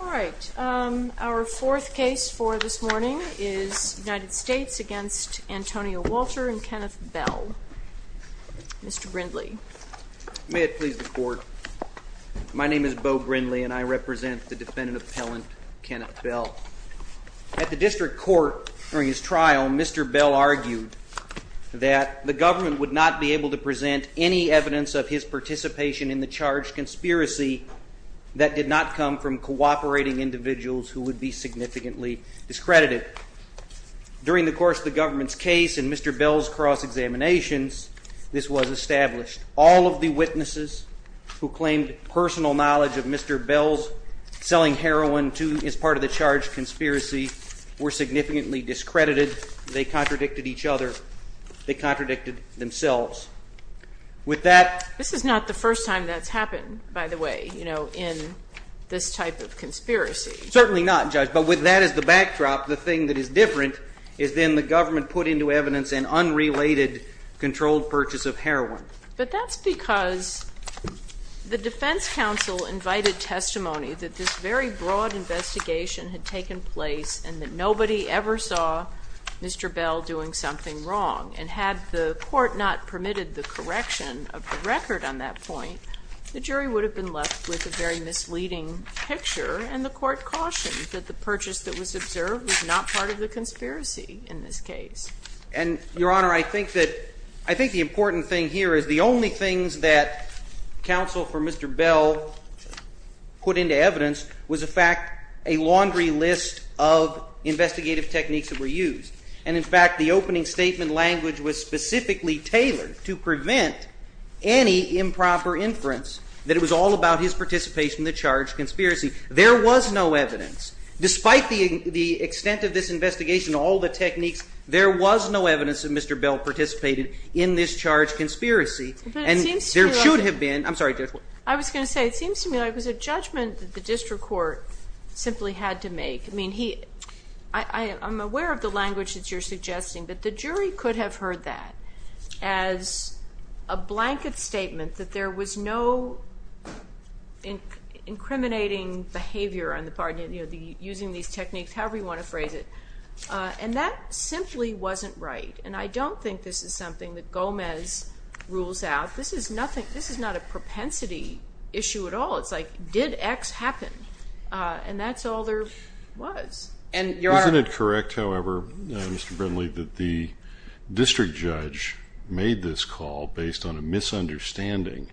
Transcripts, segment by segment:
All right. Our fourth case for this morning is United States against Antonio Walter and Kenneth Bell. Mr. Brindley. May it please the court. My name is Beau Brindley and I represent the defendant appellant Kenneth Bell. At the district court during his trial, Mr. Bell argued that the government would not be able to present any evidence of his participation in the charged conspiracy that did not come from cooperating individuals who would be significantly discredited. During the course of the government's case and Mr. Bell's cross examinations, this was established. All of the witnesses who claimed personal knowledge of Mr. Bell's selling heroin as part of the charged conspiracy were significantly discredited. They contradicted each other. They contradicted themselves. This is not the first time that's happened, by the way, you know, in this type of conspiracy. Certainly not, Judge, but with that as the backdrop, the thing that is different is then the government put into evidence an unrelated controlled purchase of heroin. But that's because the defense counsel invited testimony that this very broad investigation had taken place and that nobody ever saw Mr. Bell doing something wrong. And had the court not permitted the correction of the record on that point, the jury would have been left with a very misleading picture. And the court cautioned that the purchase that was observed was not part of the conspiracy in this case. And, Your Honor, I think the important thing here is the only things that counsel for Mr. Bell put into evidence was, in fact, a laundry list of investigative techniques that were used. And, in fact, the opening statement language was specifically tailored to prevent any improper inference that it was all about his participation in the charged conspiracy. There was no evidence. Despite the extent of this investigation, all the techniques, there was no evidence that Mr. Bell participated in this charged conspiracy. And there should have been. I'm sorry, Judge. I was going to say, it seems to me like it was a judgment that the district court simply had to make. I'm aware of the language that you're suggesting, but the jury could have heard that as a blanket statement that there was no incriminating behavior on the part of using these techniques, however you want to phrase it. And that simply wasn't right. And I don't think this is something that Gomez rules out. This is not a propensity issue at all. It's like, did X happen? And that's all there was. Isn't it correct, however, Mr. Brindley, that the district judge made this call based on a misunderstanding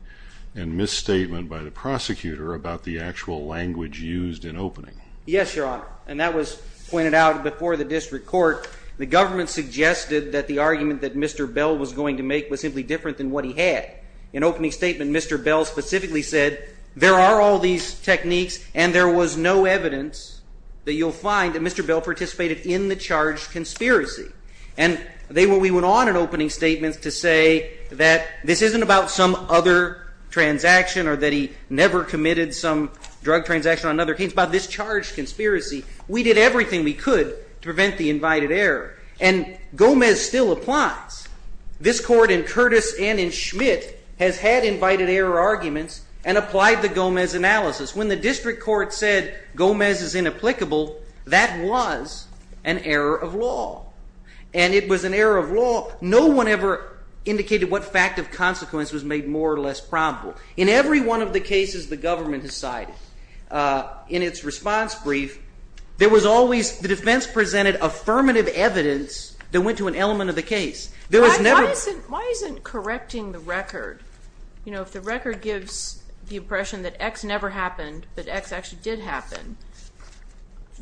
and misstatement by the prosecutor about the actual language used in opening? Yes, Your Honor. And that was pointed out before the district court. The government suggested that the argument that Mr. Bell was going to make was simply different than what he had. In opening statement, Mr. Bell specifically said, there are all these techniques, and there was no evidence that you'll find that Mr. Bell participated in the charged conspiracy. And we went on in opening statements to say that this isn't about some other transaction or that he never committed some drug transaction on another case. It's about this charged conspiracy. We did everything we could to prevent the invited error. And Gomez still applies. This court, in Curtis and in Schmidt, has had invited error arguments and applied the Gomez analysis. When the district court said Gomez is inapplicable, that was an error of law. And it was an error of law. No one ever indicated what fact of consequence was made more or less probable. In every one of the cases the government has cited in its response brief, the defense presented affirmative evidence that went to an element of the case. Why isn't correcting the record, if the record gives the impression that X never happened, that X actually did happen,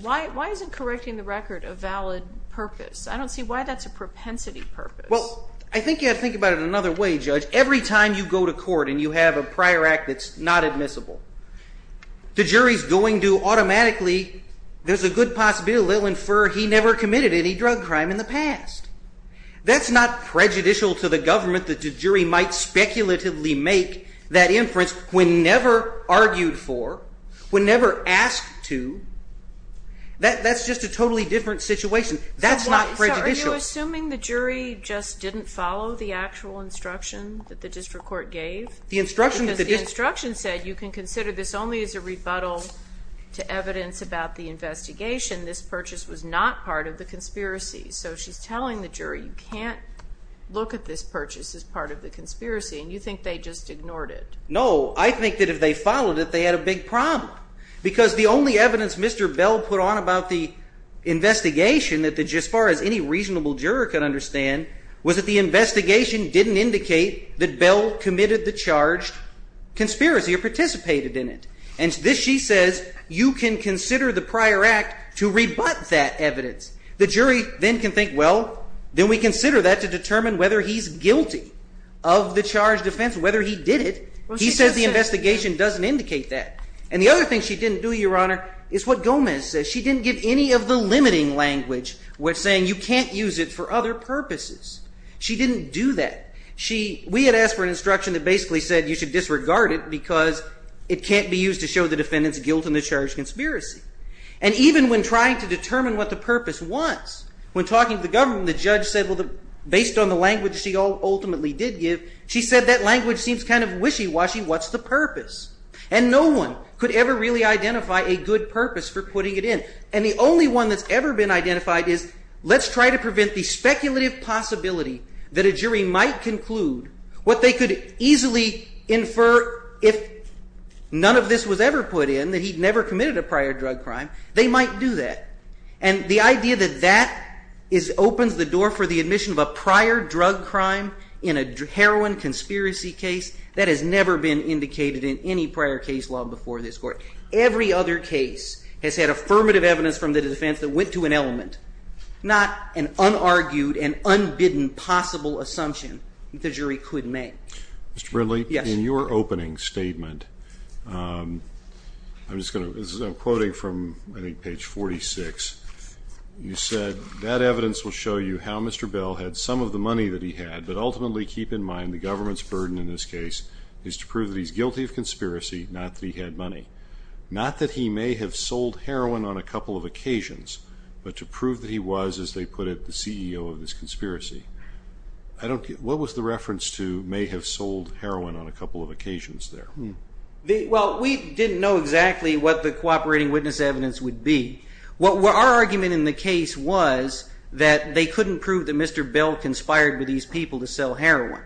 why isn't correcting the record a valid purpose? I don't see why that's a propensity purpose. Well, I think you have to think about it another way, Judge. Every time you go to court and you have a prior act that's not admissible, the jury's going to automatically, there's a good possibility they'll infer he never committed any drug crime in the past. That's not prejudicial to the government that the jury might speculatively make that inference when never argued for, when never asked to. That's just a totally different situation. That's not prejudicial. Are you assuming the jury just didn't follow the actual instruction that the district court gave? The instruction said you can consider this only as a rebuttal to evidence about the investigation. This purchase was not part of the conspiracy. So she's telling the jury you can't look at this purchase as part of the conspiracy, and you think they just ignored it. No. I think that if they followed it, they had a big problem. Because the only evidence Mr. Bell put on about the investigation, as far as any reasonable juror can understand, was that the investigation didn't indicate that Bell committed the charged conspiracy or participated in it. And this, she says, you can consider the prior act to rebut that evidence. The jury then can think, well, then we consider that to determine whether he's guilty of the charged offense, whether he did it. He says the investigation doesn't indicate that. And the other thing she didn't do, Your Honor, is what Gomez says. She didn't give any of the limiting language, saying you can't use it for other purposes. She didn't do that. We had asked for an instruction that basically said you should disregard it because it can't be used to show the defendant's guilt in the charged conspiracy. And even when trying to determine what the purpose was, when talking to the government, the judge said, well, based on the language she ultimately did give, she said that language seems kind of wishy-washy. What's the purpose? And no one could ever really identify a good purpose for putting it in. And the only one that's ever been identified is let's try to prevent the speculative possibility that a jury might conclude what they could easily infer if none of this was ever put in, that he'd never committed a prior drug crime. They might do that. And the idea that that opens the door for the admission of a prior drug crime in a heroin conspiracy case, that has never been indicated in any prior case law before this Court. Every other case has had affirmative evidence from the defense that went to an element, not an unargued and unbidden possible assumption that the jury could make. Mr. Brindley? Yes. In your opening statement, I'm quoting from I think page 46. You said, that evidence will show you how Mr. Bell had some of the money that he had, but ultimately keep in mind the government's burden in this case is to prove that he's guilty of conspiracy, not that he had money. Not that he may have sold heroin on a couple of occasions, but to prove that he was, as they put it, the CEO of this conspiracy. What was the reference to may have sold heroin on a couple of occasions there? Well, we didn't know exactly what the cooperating witness evidence would be. Our argument in the case was that they couldn't prove that Mr. Bell conspired with these people to sell heroin.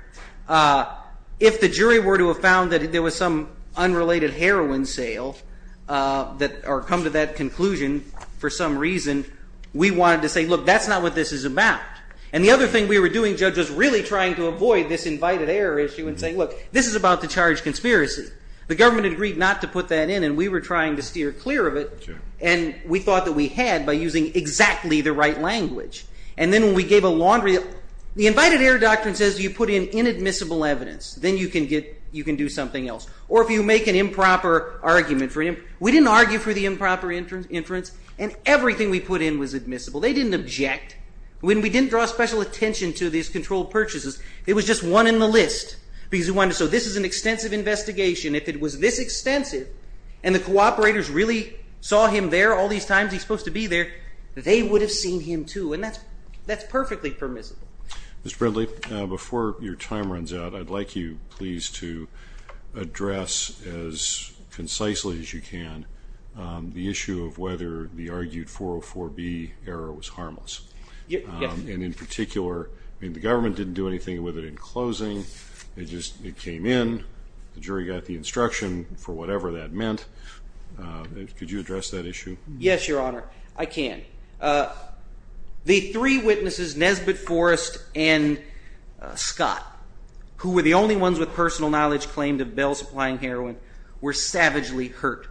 If the jury were to have found that there was some unrelated heroin sale or come to that conclusion for some reason, we wanted to say, look, that's not what this is about. And the other thing we were doing, Judge, was really trying to avoid this invited error issue and say, look, this is about the charged conspiracy. The government agreed not to put that in, and we were trying to steer clear of it. And we thought that we had by using exactly the right language. And then when we gave a laundry, the invited error doctrine says you put in inadmissible evidence. Then you can do something else. Or if you make an improper argument for him, we didn't argue for the improper inference, and everything we put in was admissible. They didn't object. When we didn't draw special attention to these controlled purchases, it was just one in the list. So this is an extensive investigation. If it was this extensive and the cooperators really saw him there all these times he's supposed to be there, they would have seen him too. And that's perfectly permissible. Mr. Bradley, before your time runs out, I'd like you please to address as concisely as you can the issue of whether the argued 404B error was harmless. And in particular, the government didn't do anything with it in closing. It just came in. The jury got the instruction for whatever that meant. Could you address that issue? Yes, Your Honor. I can. The three witnesses, Nesbitt Forrest and Scott, who were the only ones with personal knowledge claimed of Bell supplying heroin, were savagely hurt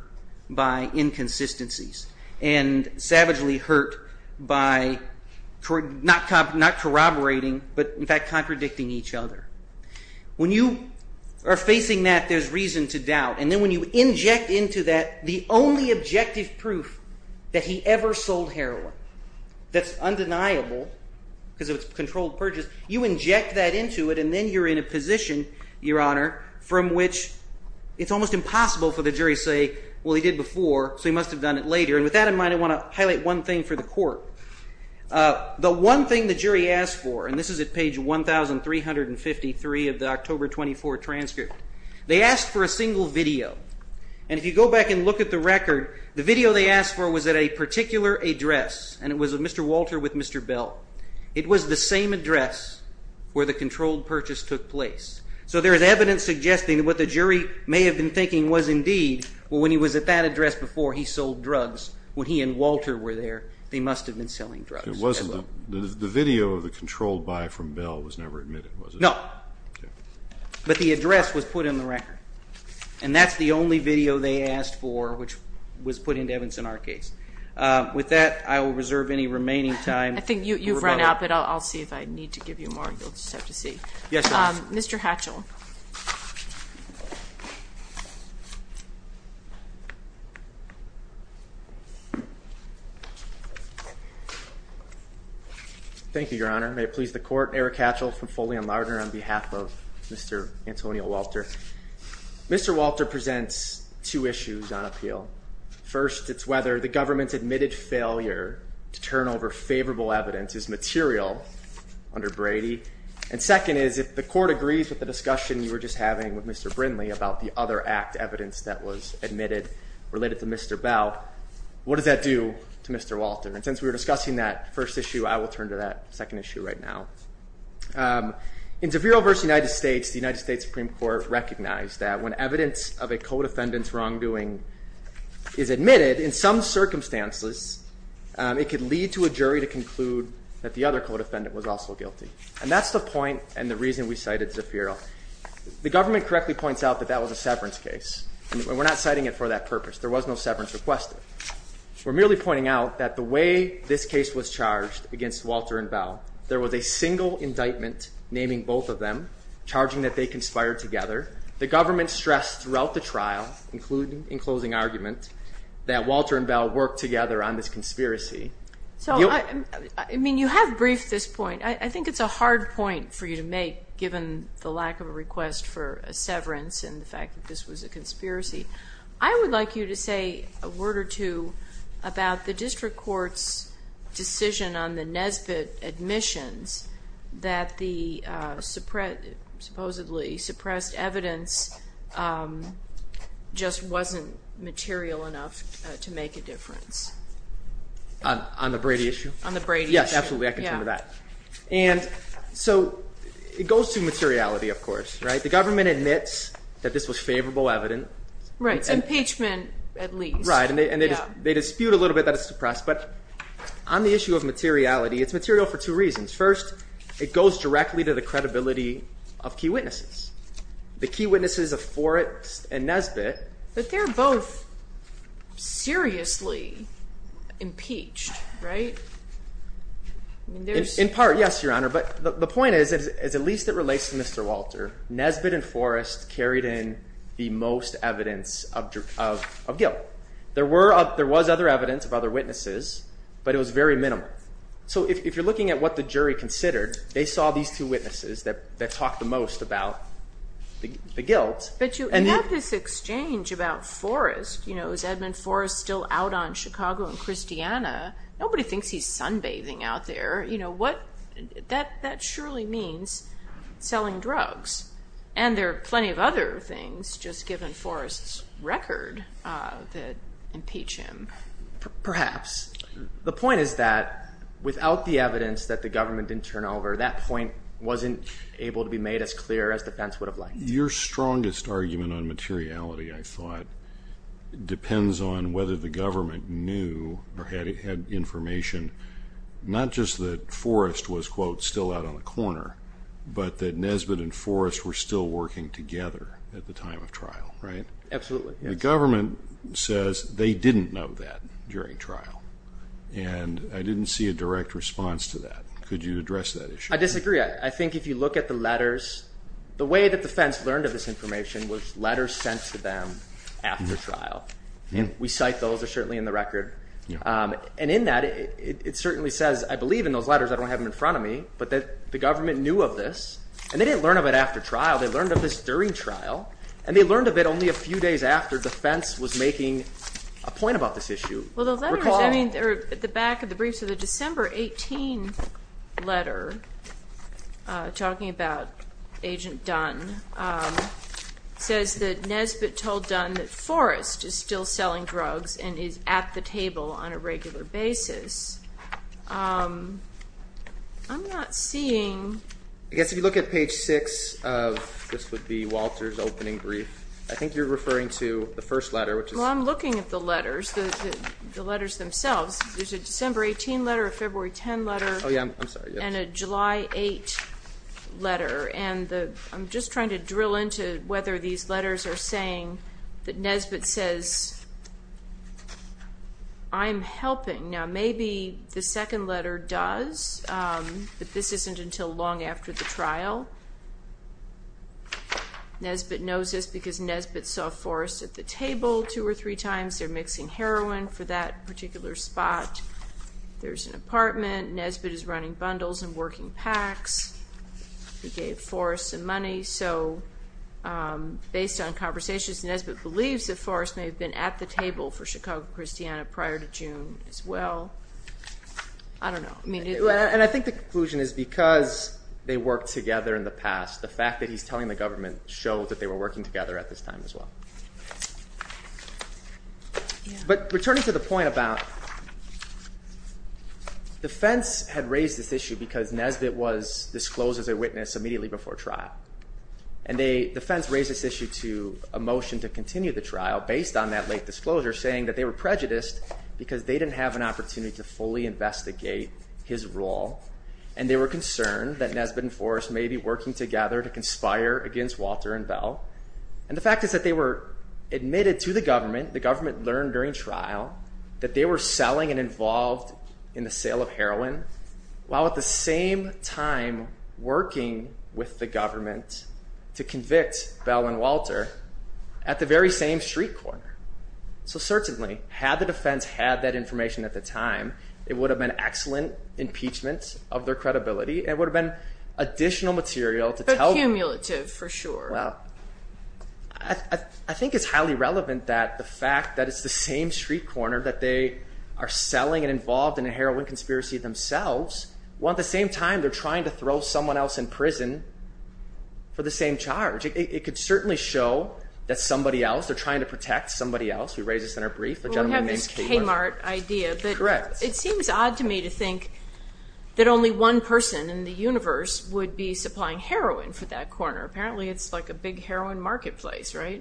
by inconsistencies and savagely hurt by not corroborating but, in fact, contradicting each other. When you are facing that, there's reason to doubt. And then when you inject into that the only objective proof that he ever sold heroin that's undeniable because of its controlled purchase, you inject that into it and then you're in a position, Your Honor, from which it's almost impossible for the jury to say, well, he did before so he must have done it later. And with that in mind, I want to highlight one thing for the court. The one thing the jury asked for, and this is at page 1,353 of the October 24 transcript, they asked for a single video. And if you go back and look at the record, the video they asked for was at a particular address, and it was of Mr. Walter with Mr. Bell. It was the same address where the controlled purchase took place. So there is evidence suggesting that what the jury may have been thinking was indeed, well, when he was at that address before he sold drugs, when he and Walter were there, they must have been selling drugs. The video of the controlled buy from Bell was never admitted, was it? No. But the address was put in the record. And that's the only video they asked for which was put into Evans in our case. With that, I will reserve any remaining time. I think you've run out, but I'll see if I need to give you more. You'll just have to see. Yes, Your Honor. Mr. Hatchell. Thank you, Your Honor. May it please the Court, Eric Hatchell from Foley & Lardner on behalf of Mr. Antonio Walter. Mr. Walter presents two issues on appeal. First, it's whether the government's admitted failure to turn over favorable evidence is material under Brady. And second is if the Court agrees with the discussion you were just having with Mr. Brindley about the other act evidence that was admitted related to Mr. Bell, what does that do to Mr. Walter? And since we were discussing that first issue, I will turn to that second issue right now. In Zaffiro v. United States, the United States Supreme Court recognized that when evidence of a co-defendant's wrongdoing is admitted, in some circumstances it could lead to a jury to conclude that the other co-defendant was also guilty. And that's the point and the reason we cited Zaffiro. The government correctly points out that that was a severance case. We're not citing it for that purpose. There was no severance requested. We're merely pointing out that the way this case was charged against Walter and Bell, there was a single indictment naming both of them, charging that they conspired together. The government stressed throughout the trial, including in closing argument, that Walter and Bell worked together on this conspiracy. So, I mean, you have briefed this point. I think it's a hard point for you to make given the lack of a request for a severance and the fact that this was a conspiracy. I would like you to say a word or two about the district court's decision on the Nesbitt admissions that the supposedly suppressed evidence just wasn't material enough to make a difference. On the Brady issue? On the Brady issue. Yes, absolutely. I can tell you that. And so it goes to materiality, of course, right? The government admits that this was favorable evidence. Right. It's impeachment, at least. Right. And they dispute a little bit that it's suppressed. But on the issue of materiality, it's material for two reasons. First, it goes directly to the credibility of key witnesses, the key witnesses of Forrest and Nesbitt. But they're both seriously impeached, right? In part, yes, Your Honor. But the point is at least it relates to Mr. Walter. Nesbitt and Forrest carried in the most evidence of guilt. There was other evidence of other witnesses, but it was very minimal. So if you're looking at what the jury considered, they saw these two witnesses that talked the most about the guilt. But you have this exchange about Forrest. Is Edmund Forrest still out on Chicago and Christiana? Nobody thinks he's sunbathing out there. That surely means selling drugs. And there are plenty of other things, just given Forrest's record, that impeach him. Perhaps. The point is that without the evidence that the government didn't turn over, that point wasn't able to be made as clear as defense would have liked. Your strongest argument on materiality, I thought, depends on whether the government knew or had information, not just that Forrest was, quote, still out on the corner, but that Nesbitt and Forrest were still working together at the time of trial, right? Absolutely. The government says they didn't know that during trial, and I didn't see a direct response to that. Could you address that issue? I disagree. I think if you look at the letters, the way that the defense learned of this information was letters sent to them after trial. We cite those. They're certainly in the record. And in that, it certainly says, I believe in those letters, I don't have them in front of me, but that the government knew of this, and they didn't learn of it after trial. They learned of this during trial, and they learned of it only a few days after defense was making a point about this issue. Well, those letters, I mean, they're at the back of the briefs. So the December 18 letter talking about Agent Dunn says that Nesbitt told Dunn that Forrest is still selling drugs and is at the table on a regular basis. I'm not seeing. I guess if you look at page 6 of this would be Walter's opening brief, I think you're referring to the first letter, which is. Well, I'm looking at the letters, the letters themselves. There's a December 18 letter, a February 10 letter, and a July 8 letter. And I'm just trying to drill into whether these letters are saying that Nesbitt says, I'm helping. Now, maybe the second letter does, but this isn't until long after the trial. Nesbitt knows this because Nesbitt saw Forrest at the table two or three times. They're mixing heroin for that particular spot. There's an apartment. Nesbitt is running bundles and working packs. He gave Forrest some money. So based on conversations, Nesbitt believes that Forrest may have been at the table for Chicago-Christiana prior to June as well. I don't know. And I think the conclusion is because they worked together in the past, the fact that he's telling the government shows that they were working together at this time as well. But returning to the point about defense had raised this issue because Nesbitt was disclosed as a witness immediately before trial. And the defense raised this issue to a motion to continue the trial based on that late disclosure, saying that they were prejudiced because they didn't have an opportunity to fully investigate his role, and they were concerned that Nesbitt and Forrest may be working together to conspire against Walter and Bell. And the fact is that they were admitted to the government. The government learned during trial that they were selling and involved in the sale of heroin, while at the same time working with the government to convict Bell and Walter at the very same street corner. So certainly, had the defense had that information at the time, it would have been excellent impeachment of their credibility. It would have been additional material to tell them. But cumulative, for sure. Well, I think it's highly relevant that the fact that it's the same street corner that they are selling and involved in a heroin conspiracy themselves, while at the same time they're trying to throw someone else in prison for the same charge. It could certainly show that somebody else, they're trying to protect somebody else. We raised this in our brief. We have this Kmart idea, but it seems odd to me to think that only one person in the universe would be supplying heroin for that corner. Apparently, it's like a big heroin marketplace, right?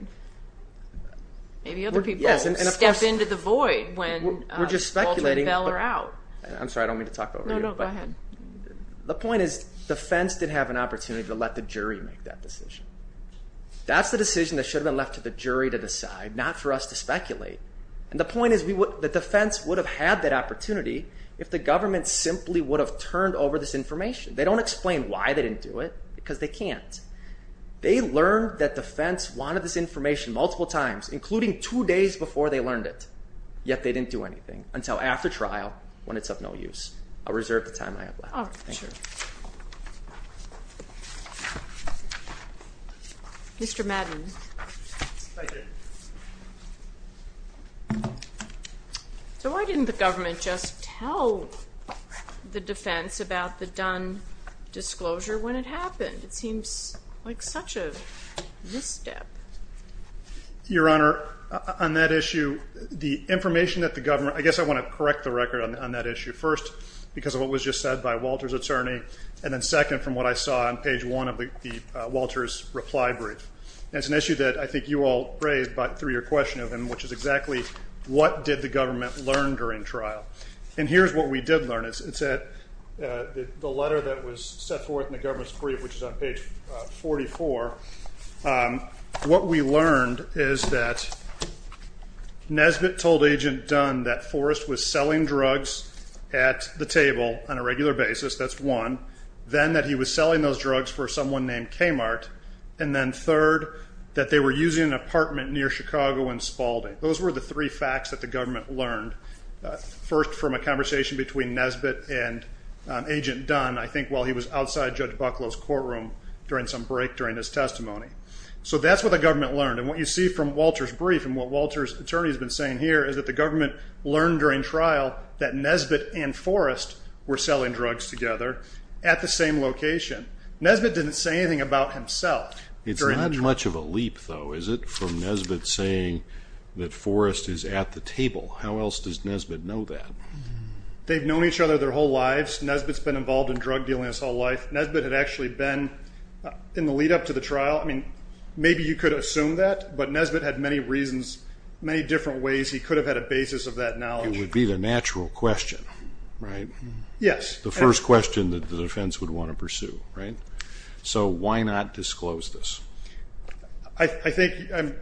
Maybe other people step into the void when Walter and Bell are out. I'm sorry, I don't mean to talk over you. No, no, go ahead. The point is defense didn't have an opportunity to let the jury make that decision. That's the decision that should have been left to the jury to decide, not for us to speculate. And the point is the defense would have had that opportunity if the government simply would have turned over this information. They don't explain why they didn't do it because they can't. They learned that defense wanted this information multiple times, including two days before they learned it. Yet they didn't do anything until after trial when it's of no use. I'll reserve the time I have left. All right, sure. Mr. Madden. Thank you. So why didn't the government just tell the defense about the Dunn disclosure when it happened? It seems like such a misstep. Your Honor, on that issue, the information that the government – I guess I want to correct the record on that issue. First, because of what was just said by Walter's attorney. And then second, from what I saw on page one of Walter's reply brief. It's an issue that I think you all raised through your question of him, which is exactly what did the government learn during trial. And here's what we did learn. It's that the letter that was set forth in the government's brief, which is on page 44, what we learned is that Nesbitt told Agent Dunn that Forrest was selling drugs at the table on a regular basis. That's one. Then that he was selling those drugs for someone named Kmart. And then third, that they were using an apartment near Chicago in Spalding. Those were the three facts that the government learned. First, from a conversation between Nesbitt and Agent Dunn, I think while he was outside Judge Bucklow's courtroom during some break during his testimony. So that's what the government learned. And what you see from Walter's brief and what Walter's attorney has been saying here is that the government learned during trial that Nesbitt and Forrest were selling drugs together at the same location. Nesbitt didn't say anything about himself. It's not much of a leap, though, is it, from Nesbitt saying that Forrest is at the table? How else does Nesbitt know that? They've known each other their whole lives. Nesbitt's been involved in drug dealing his whole life. Nesbitt had actually been in the lead-up to the trial. I mean, maybe you could assume that, but Nesbitt had many reasons, many different ways. He could have had a basis of that knowledge. It would be the natural question, right? Yes. The first question that the defense would want to pursue, right? So why not disclose this? I think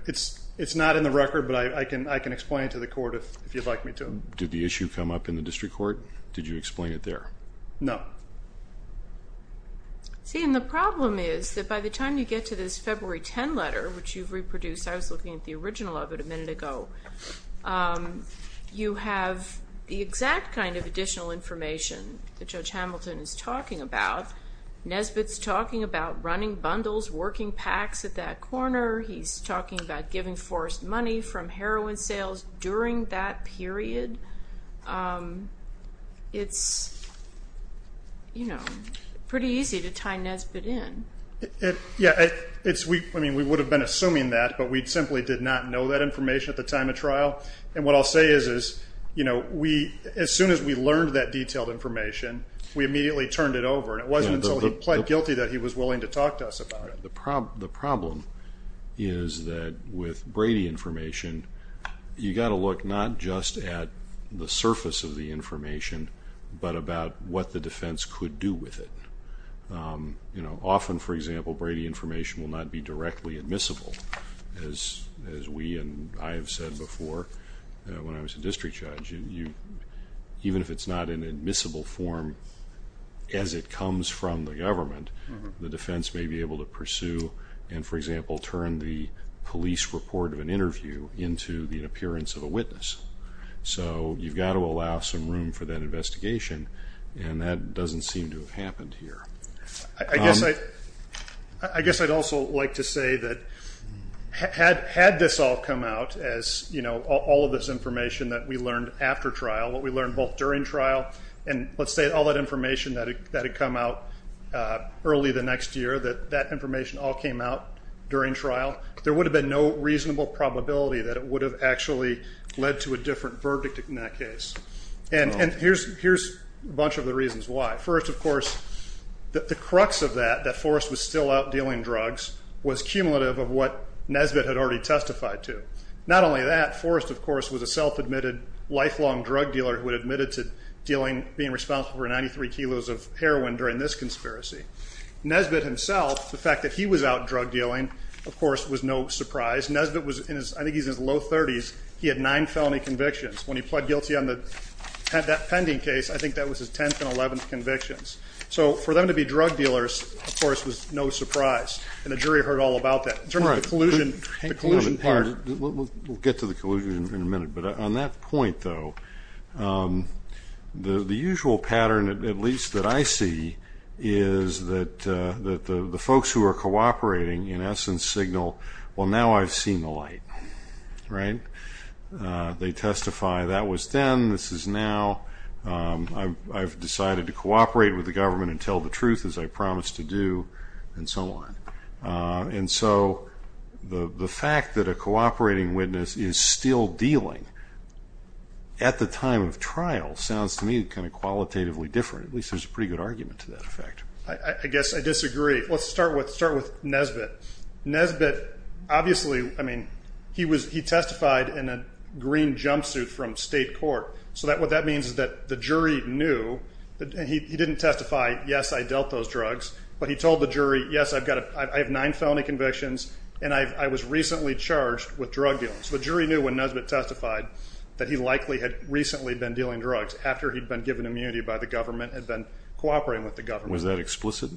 it's not in the record, but I can explain it to the court if you'd like me to. Did the issue come up in the district court? Did you explain it there? No. See, and the problem is that by the time you get to this February 10 letter, which you've reproduced, I was looking at the original of it a minute ago, you have the exact kind of additional information that Judge Hamilton is talking about. Nesbitt's talking about running bundles, working packs at that corner. He's talking about giving Forrest money from heroin sales during that period. It's, you know, pretty easy to tie Nesbitt in. Yeah. I mean, we would have been assuming that, but we simply did not know that information at the time of trial. And what I'll say is, you know, as soon as we learned that detailed information, we immediately turned it over, and it wasn't until he pled guilty that he was willing to talk to us about it. The problem is that with Brady information, you've got to look not just at the surface of the information, but about what the defense could do with it. You know, often, for example, Brady information will not be directly admissible, as we and I have said before when I was a district judge. Even if it's not in admissible form as it comes from the government, the defense may be able to pursue and, for example, turn the police report of an interview into the appearance of a witness. So you've got to allow some room for that investigation, and that doesn't seem to have happened here. I guess I'd also like to say that had this all come out as, you know, all of this information that we learned after trial, what we learned both during trial and, let's say, all that information that had come out early the next year, that that information all came out during trial, there would have been no reasonable probability that it would have actually led to a different verdict in that case. And here's a bunch of the reasons why. First, of course, the crux of that, that Forrest was still out dealing drugs, was cumulative of what Nesbitt had already testified to. Not only that, Forrest, of course, was a self-admitted lifelong drug dealer who had admitted to being responsible for 93 kilos of heroin during this conspiracy. Nesbitt himself, the fact that he was out drug dealing, of course, was no surprise. Nesbitt was in his low 30s. He had nine felony convictions. When he pled guilty on that pending case, I think that was his 10th and 11th convictions. So for them to be drug dealers, of course, was no surprise, and the jury heard all about that. In terms of the collusion part. We'll get to the collusion in a minute. But on that point, though, the usual pattern, at least that I see, is that the folks who are cooperating in essence signal, well, now I've seen the light. Right? They testify, that was then, this is now, I've decided to cooperate with the government and tell the truth as I promised to do, and so on. And so the fact that a cooperating witness is still dealing at the time of trial sounds to me kind of qualitatively different. At least there's a pretty good argument to that effect. I guess I disagree. Let's start with Nesbitt. Nesbitt obviously, I mean, he testified in a green jumpsuit from state court. So what that means is that the jury knew, and he didn't testify, yes, I dealt those drugs, but he told the jury, yes, I have nine felony convictions, and I was recently charged with drug dealing. So the jury knew when Nesbitt testified that he likely had recently been dealing drugs after he'd been given immunity by the government and been cooperating with the government. Was that explicit?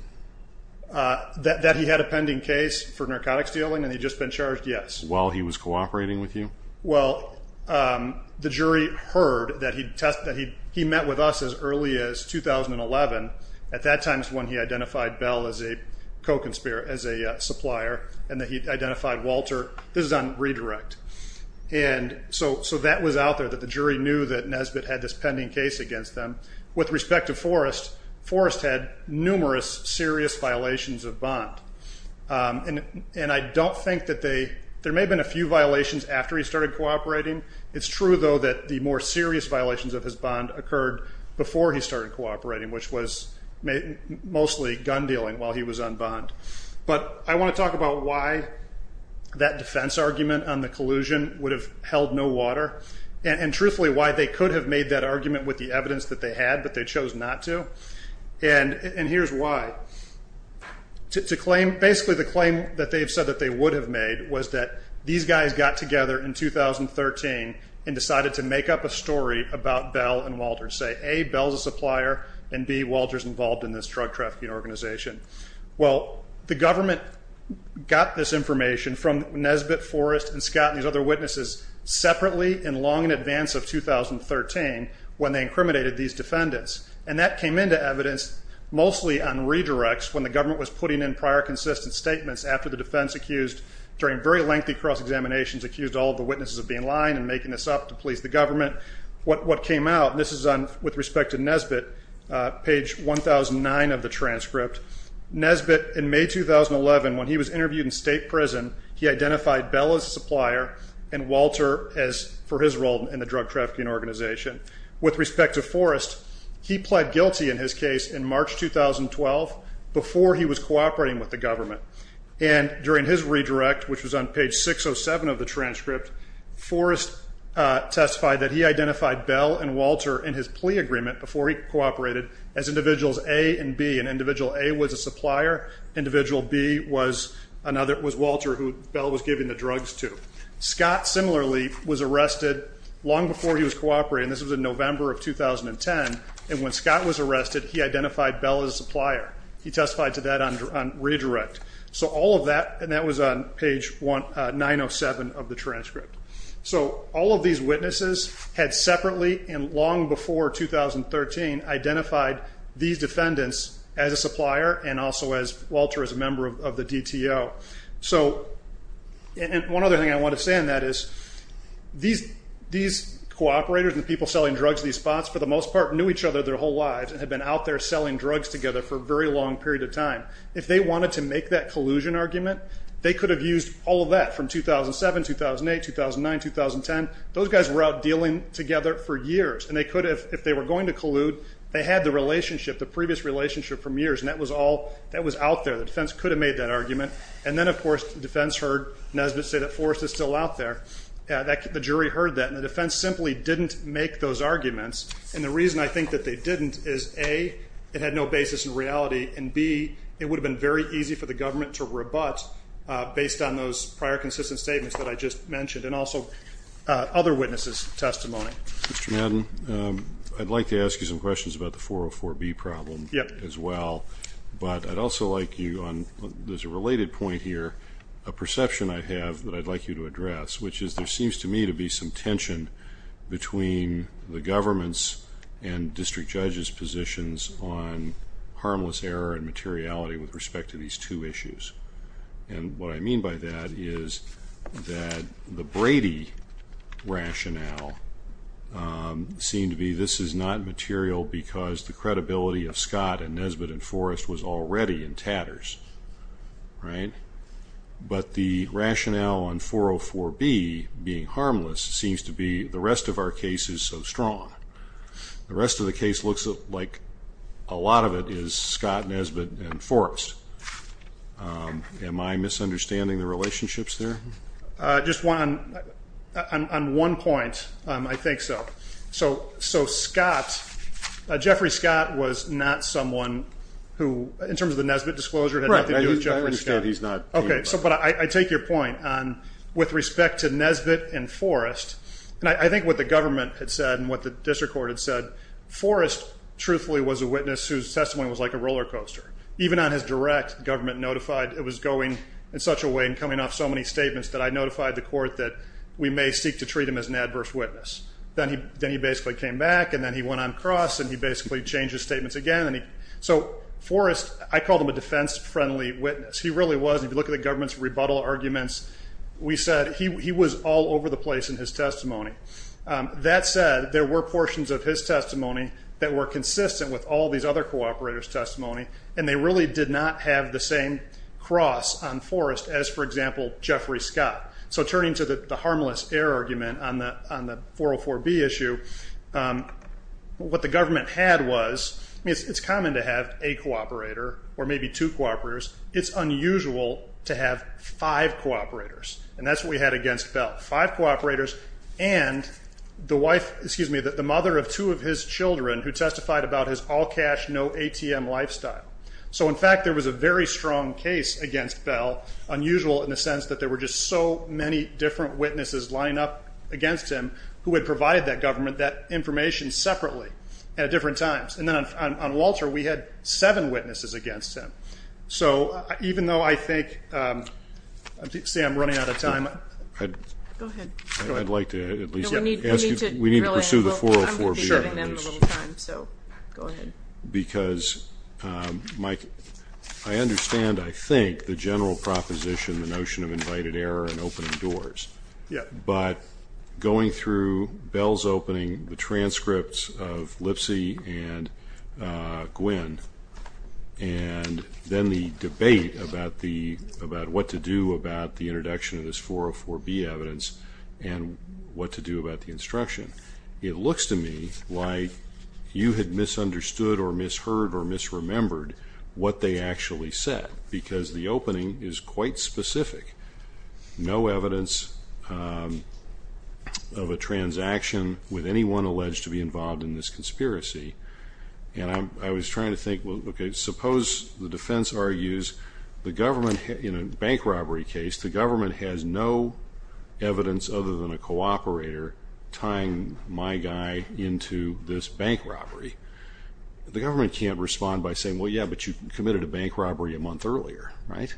That he had a pending case for narcotics dealing and he'd just been charged, yes. While he was cooperating with you? Well, the jury heard that he met with us as early as 2011. At that time is when he identified Bell as a co-conspirator, as a supplier, and that he identified Walter. This is on redirect. So that was out there, that the jury knew that Nesbitt had this pending case against them. With respect to Forrest, Forrest had numerous serious violations of bond. And I don't think that they ñ there may have been a few violations after he started cooperating. It's true, though, that the more serious violations of his bond occurred before he started cooperating, which was mostly gun dealing while he was on bond. But I want to talk about why that defense argument on the collusion would have held no water and, truthfully, why they could have made that argument with the evidence that they had, but they chose not to. And here's why. To claim ñ basically, the claim that they've said that they would have made was that these guys got together in 2013 and decided to make up a story about Bell and Walter, and say, A, Bell's a supplier, and, B, Walter's involved in this drug trafficking organization. Well, the government got this information from Nesbitt, Forrest, and Scott and these other witnesses separately and long in advance of 2013 when they incriminated these defendants. And that came into evidence mostly on redirects when the government was putting in prior consistent statements after the defense accused, during very lengthy cross-examinations, accused all of the witnesses of being lying and making this up to please the government. What came out, and this is with respect to Nesbitt, page 1009 of the transcript, Nesbitt in May 2011, when he was interviewed in state prison, he identified Bell as a supplier and Walter for his role in the drug trafficking organization. With respect to Forrest, he pled guilty in his case in March 2012 before he was cooperating with the government. And during his redirect, which was on page 607 of the transcript, Forrest testified that he identified Bell and Walter in his plea agreement before he cooperated as individuals A and B. And individual A was a supplier. Individual B was Walter who Bell was giving the drugs to. Scott, similarly, was arrested long before he was cooperating. This was in November of 2010. And when Scott was arrested, he identified Bell as a supplier. He testified to that on redirect. So all of that, and that was on page 907 of the transcript. So all of these witnesses had separately and long before 2013 identified these defendants as a supplier and also as Walter as a member of the DTO. And one other thing I want to say on that is these cooperators and the people selling drugs at these spots, for the most part, knew each other their whole lives and had been out there selling drugs together for a very long period of time. If they wanted to make that collusion argument, they could have used all of that from 2007, 2008, 2009, 2010. Those guys were out dealing together for years, and they could have, if they were going to collude, they had the relationship, the previous relationship from years, and that was out there. The defense could have made that argument. And then, of course, the defense heard Nesbitt say that Forrest is still out there. The jury heard that, and the defense simply didn't make those arguments. And the reason I think that they didn't is, A, it had no basis in reality, and, B, it would have been very easy for the government to rebut, based on those prior consistent statements that I just mentioned and also other witnesses' testimony. Mr. Madden, I'd like to ask you some questions about the 404B problem as well. Yes. But I'd also like you on, there's a related point here, a perception I have that I'd like you to address, which is there seems to me to be some tension between the government's and district judges' positions on harmless error and materiality with respect to these two issues. And what I mean by that is that the Brady rationale seemed to be, this is not material because the credibility of Scott and Nesbitt and Forrest was already in tatters, right? But the rationale on 404B being harmless seems to be, the rest of our case is so strong. The rest of the case looks like a lot of it is Scott, Nesbitt, and Forrest. Am I misunderstanding the relationships there? Just one, on one point, I think so. So Scott, Jeffrey Scott was not someone who, in terms of the Nesbitt disclosure, had nothing to do with Jeffrey Scott. Right, I understand he's not. Okay, but I take your point on with respect to Nesbitt and Forrest. And I think what the government had said and what the district court had said, Forrest truthfully was a witness whose testimony was like a roller coaster. Even on his direct, government notified, it was going in such a way and coming off so many statements that I notified the court that we may seek to treat him as an adverse witness. Then he basically came back, and then he went on cross, and he basically changed his statements again. So Forrest, I called him a defense-friendly witness. He really was. If you look at the government's rebuttal arguments, we said he was all over the place in his testimony. That said, there were portions of his testimony that were consistent with all these other cooperators' testimony, and they really did not have the same cross on Forrest as, for example, Jeffrey Scott. So turning to the harmless error argument on the 404B issue, what the government had was, it's common to have a cooperator or maybe two cooperators. It's unusual to have five cooperators, and that's what we had against Bell. Five cooperators and the mother of two of his children who testified about his all-cash, no ATM lifestyle. So, in fact, there was a very strong case against Bell, unusual in the sense that there were just so many different witnesses lining up against him who had provided that government that information separately at different times. And then on Walter, we had seven witnesses against him. So even though I think, see, I'm running out of time. Go ahead. I'd like to at least ask you, we need to pursue the 404B. I'm going to be serving them a little time, so go ahead. Because, Mike, I understand, I think, the general proposition, the notion of invited error and opening doors. But going through Bell's opening, the transcripts of Lipsy and Gwynn, and then the debate about what to do about the introduction of this 404B evidence and what to do about the instruction, it looks to me like you had misunderstood or misheard or misremembered what they actually said, because the opening is quite specific. No evidence of a transaction with anyone alleged to be involved in this conspiracy. And I was trying to think, okay, suppose the defense argues the government, in a bank robbery case, the government has no evidence other than a cooperator tying my guy into this bank robbery. The government can't respond by saying, well, yeah, but you committed a bank robbery a month earlier, right?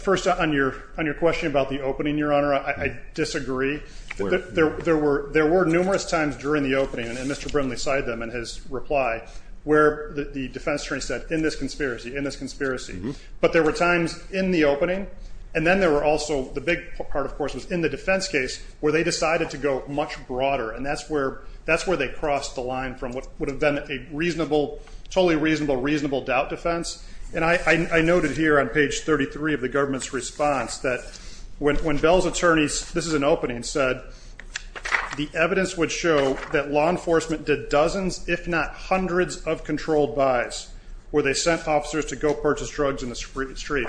First, on your question about the opening, Your Honor, I disagree. There were numerous times during the opening, and Mr. Brimley cited them in his reply, where the defense attorney said, in this conspiracy, in this conspiracy. But there were times in the opening, and then there were also, the big part, of course, was in the defense case where they decided to go much broader, and that's where they crossed the line from what would have been a reasonable, totally reasonable doubt defense. And I noted here on page 33 of the government's response that when Bell's attorneys, this is an opening, said, the evidence would show that law enforcement did dozens, if not hundreds, of controlled buys, where they sent officers to go purchase drugs in the street.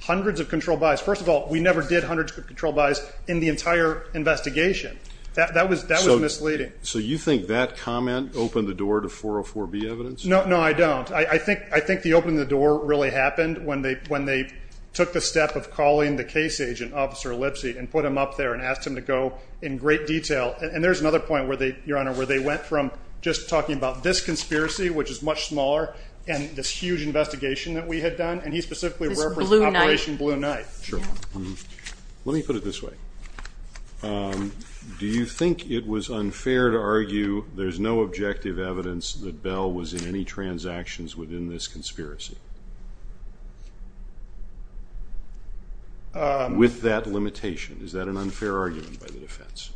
Hundreds of controlled buys. First of all, we never did hundreds of controlled buys in the entire investigation. That was misleading. So you think that comment opened the door to 404B evidence? No, I don't. I think the opening of the door really happened when they took the step of calling the case agent, Officer Lipsy, and put him up there and asked him to go in great detail. And there's another point, Your Honor, where they went from just talking about this conspiracy, which is much smaller, and this huge investigation that we had done, and he specifically referenced Operation Blue Knight. Let me put it this way. Do you think it was unfair to argue there's no objective evidence that Bell was in any transactions within this conspiracy? With that limitation, is that an unfair argument by the defense?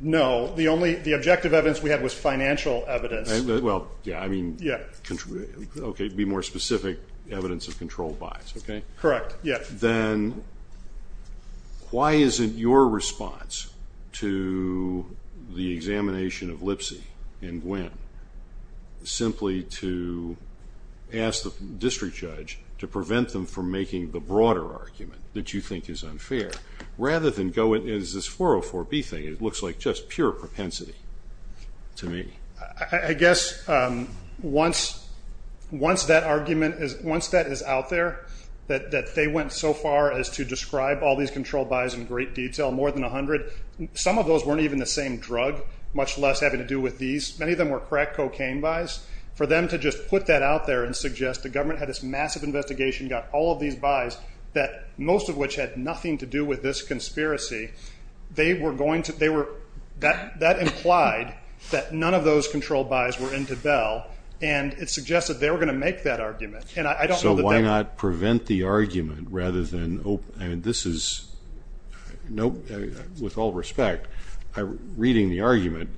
No. The objective evidence we had was financial evidence. Well, yeah, I mean, okay, be more specific, evidence of controlled buys, okay? Correct, yeah. simply to ask the district judge to prevent them from making the broader argument that you think is unfair, rather than go in as this 404B thing. It looks like just pure propensity to me. I guess once that argument is out there, that they went so far as to describe all these controlled buys in great detail, more than 100, some of those weren't even the same drug, much less having to do with these. Many of them were crack cocaine buys. For them to just put that out there and suggest the government had this massive investigation, got all of these buys, most of which had nothing to do with this conspiracy, that implied that none of those controlled buys were into Bell, and it suggested they were going to make that argument. So why not prevent the argument rather than open? This is, with all respect, reading the argument,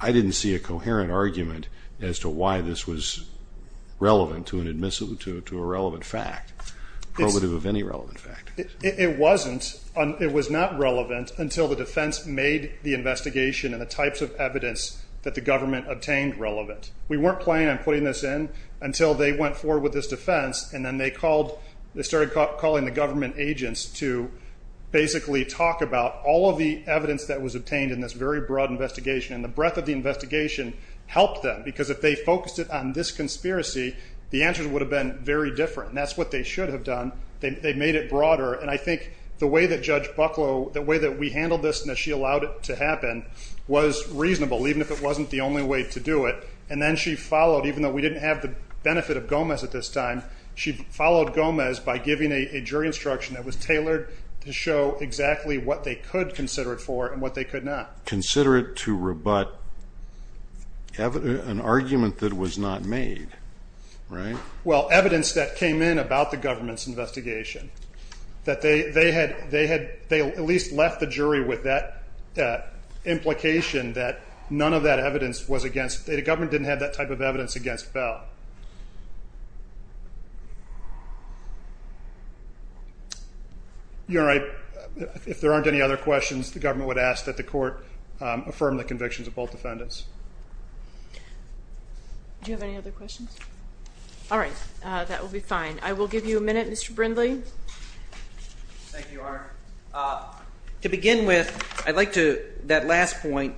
I didn't see a coherent argument as to why this was relevant to a relevant fact, probative of any relevant fact. It wasn't. It was not relevant until the defense made the investigation and the types of evidence that the government obtained relevant. We weren't planning on putting this in until they went forward with this defense, and then they started calling the government agents to basically talk about all of the evidence that was obtained in this very broad investigation, and the breadth of the investigation helped them, because if they focused it on this conspiracy, the answers would have been very different, and that's what they should have done. They made it broader, and I think the way that Judge Bucklow, the way that we handled this and that she allowed it to happen was reasonable, even if it wasn't the only way to do it. And then she followed, even though we didn't have the benefit of Gomez at this time, she followed Gomez by giving a jury instruction that was tailored to show exactly what they could consider it for and what they could not. Consider it to rebut an argument that was not made, right? Well, evidence that came in about the government's investigation, that they at least left the jury with that implication that none of that evidence was against. The government didn't have that type of evidence against Bell. If there aren't any other questions, the government would ask that the court affirm the convictions of both defendants. Do you have any other questions? All right. That will be fine. I will give you a minute, Mr. Brindley. Thank you, Your Honor. To begin with, I'd like to, that last point,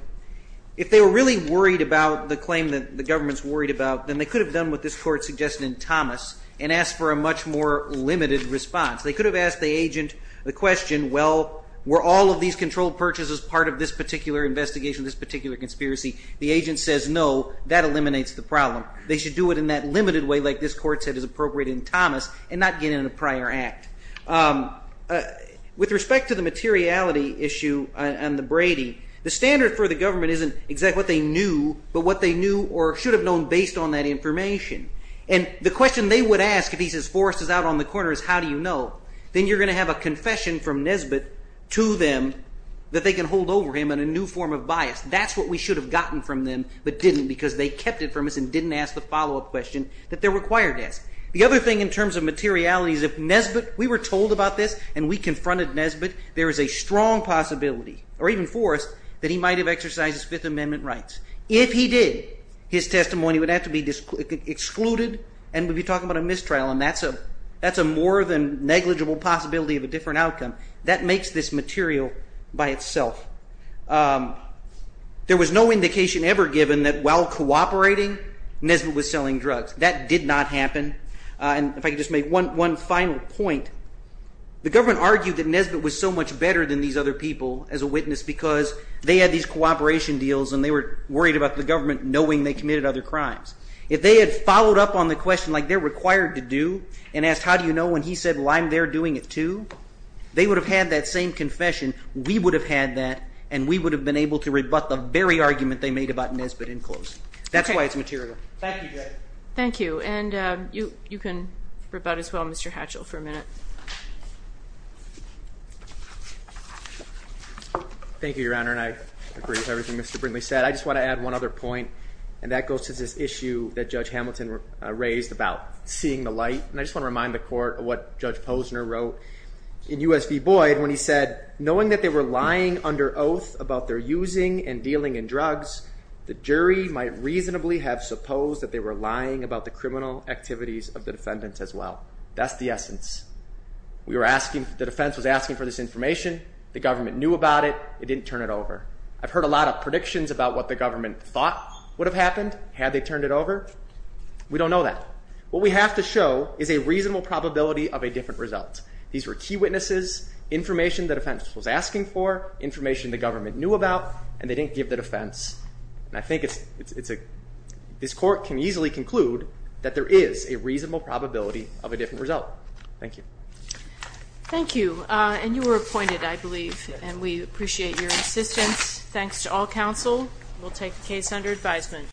if they were really worried about the claim that the government's worried about, then they could have done what this court suggested in Thomas and asked for a much more limited response. They could have asked the agent the question, well, were all of these controlled purchases part of this particular investigation, this particular conspiracy? The agent says, no, that eliminates the problem. They should do it in that limited way like this court said is appropriate in Thomas and not get in a prior act. With respect to the materiality issue on the Brady, the standard for the government isn't exactly what they knew, but what they knew or should have known based on that information. And the question they would ask if he says Forrest is out on the corner is, how do you know? Then you're going to have a confession from Nesbitt to them that they can hold over him in a new form of bias. That's what we should have gotten from them but didn't because they kept it from us and didn't ask the follow-up question that they're required to ask. The other thing in terms of materiality is if Nesbitt, we were told about this and we confronted Nesbitt, there is a strong possibility, or even Forrest, that he might have exercised his Fifth Amendment rights. If he did, his testimony would have to be excluded and we'd be talking about a mistrial, and that's a more than negligible possibility of a different outcome. That makes this material by itself. There was no indication ever given that while cooperating, Nesbitt was selling drugs. That did not happen. If I could just make one final point, the government argued that Nesbitt was so much better than these other people as a witness because they had these cooperation deals and they were worried about the government knowing they committed other crimes. If they had followed up on the question like they're required to do and asked how do you know when he said, well, I'm there doing it too, they would have had that same confession, we would have had that, and we would have been able to rebut the very argument they made about Nesbitt in close. That's why it's material. Thank you. Thank you. And you can rebut as well, Mr. Hatchell, for a minute. Thank you, Your Honor, and I agree with everything Mr. Brindley said. I just want to add one other point, and that goes to this issue that Judge Hamilton raised about seeing the light, and I just want to remind the court of what Judge Posner wrote in U.S.V. Boyd when he said, knowing that they were lying under oath about their using and dealing in the criminal activities of the defendants as well. That's the essence. We were asking, the defense was asking for this information, the government knew about it, it didn't turn it over. I've heard a lot of predictions about what the government thought would have happened had they turned it over. We don't know that. What we have to show is a reasonable probability of a different result. These were key witnesses, information the defense was asking for, information the government knew about, and they didn't give the defense. I think this court can easily conclude that there is a reasonable probability of a different result. Thank you. Thank you. And you were appointed, I believe, and we appreciate your assistance. Thanks to all counsel. We'll take the case under advisement.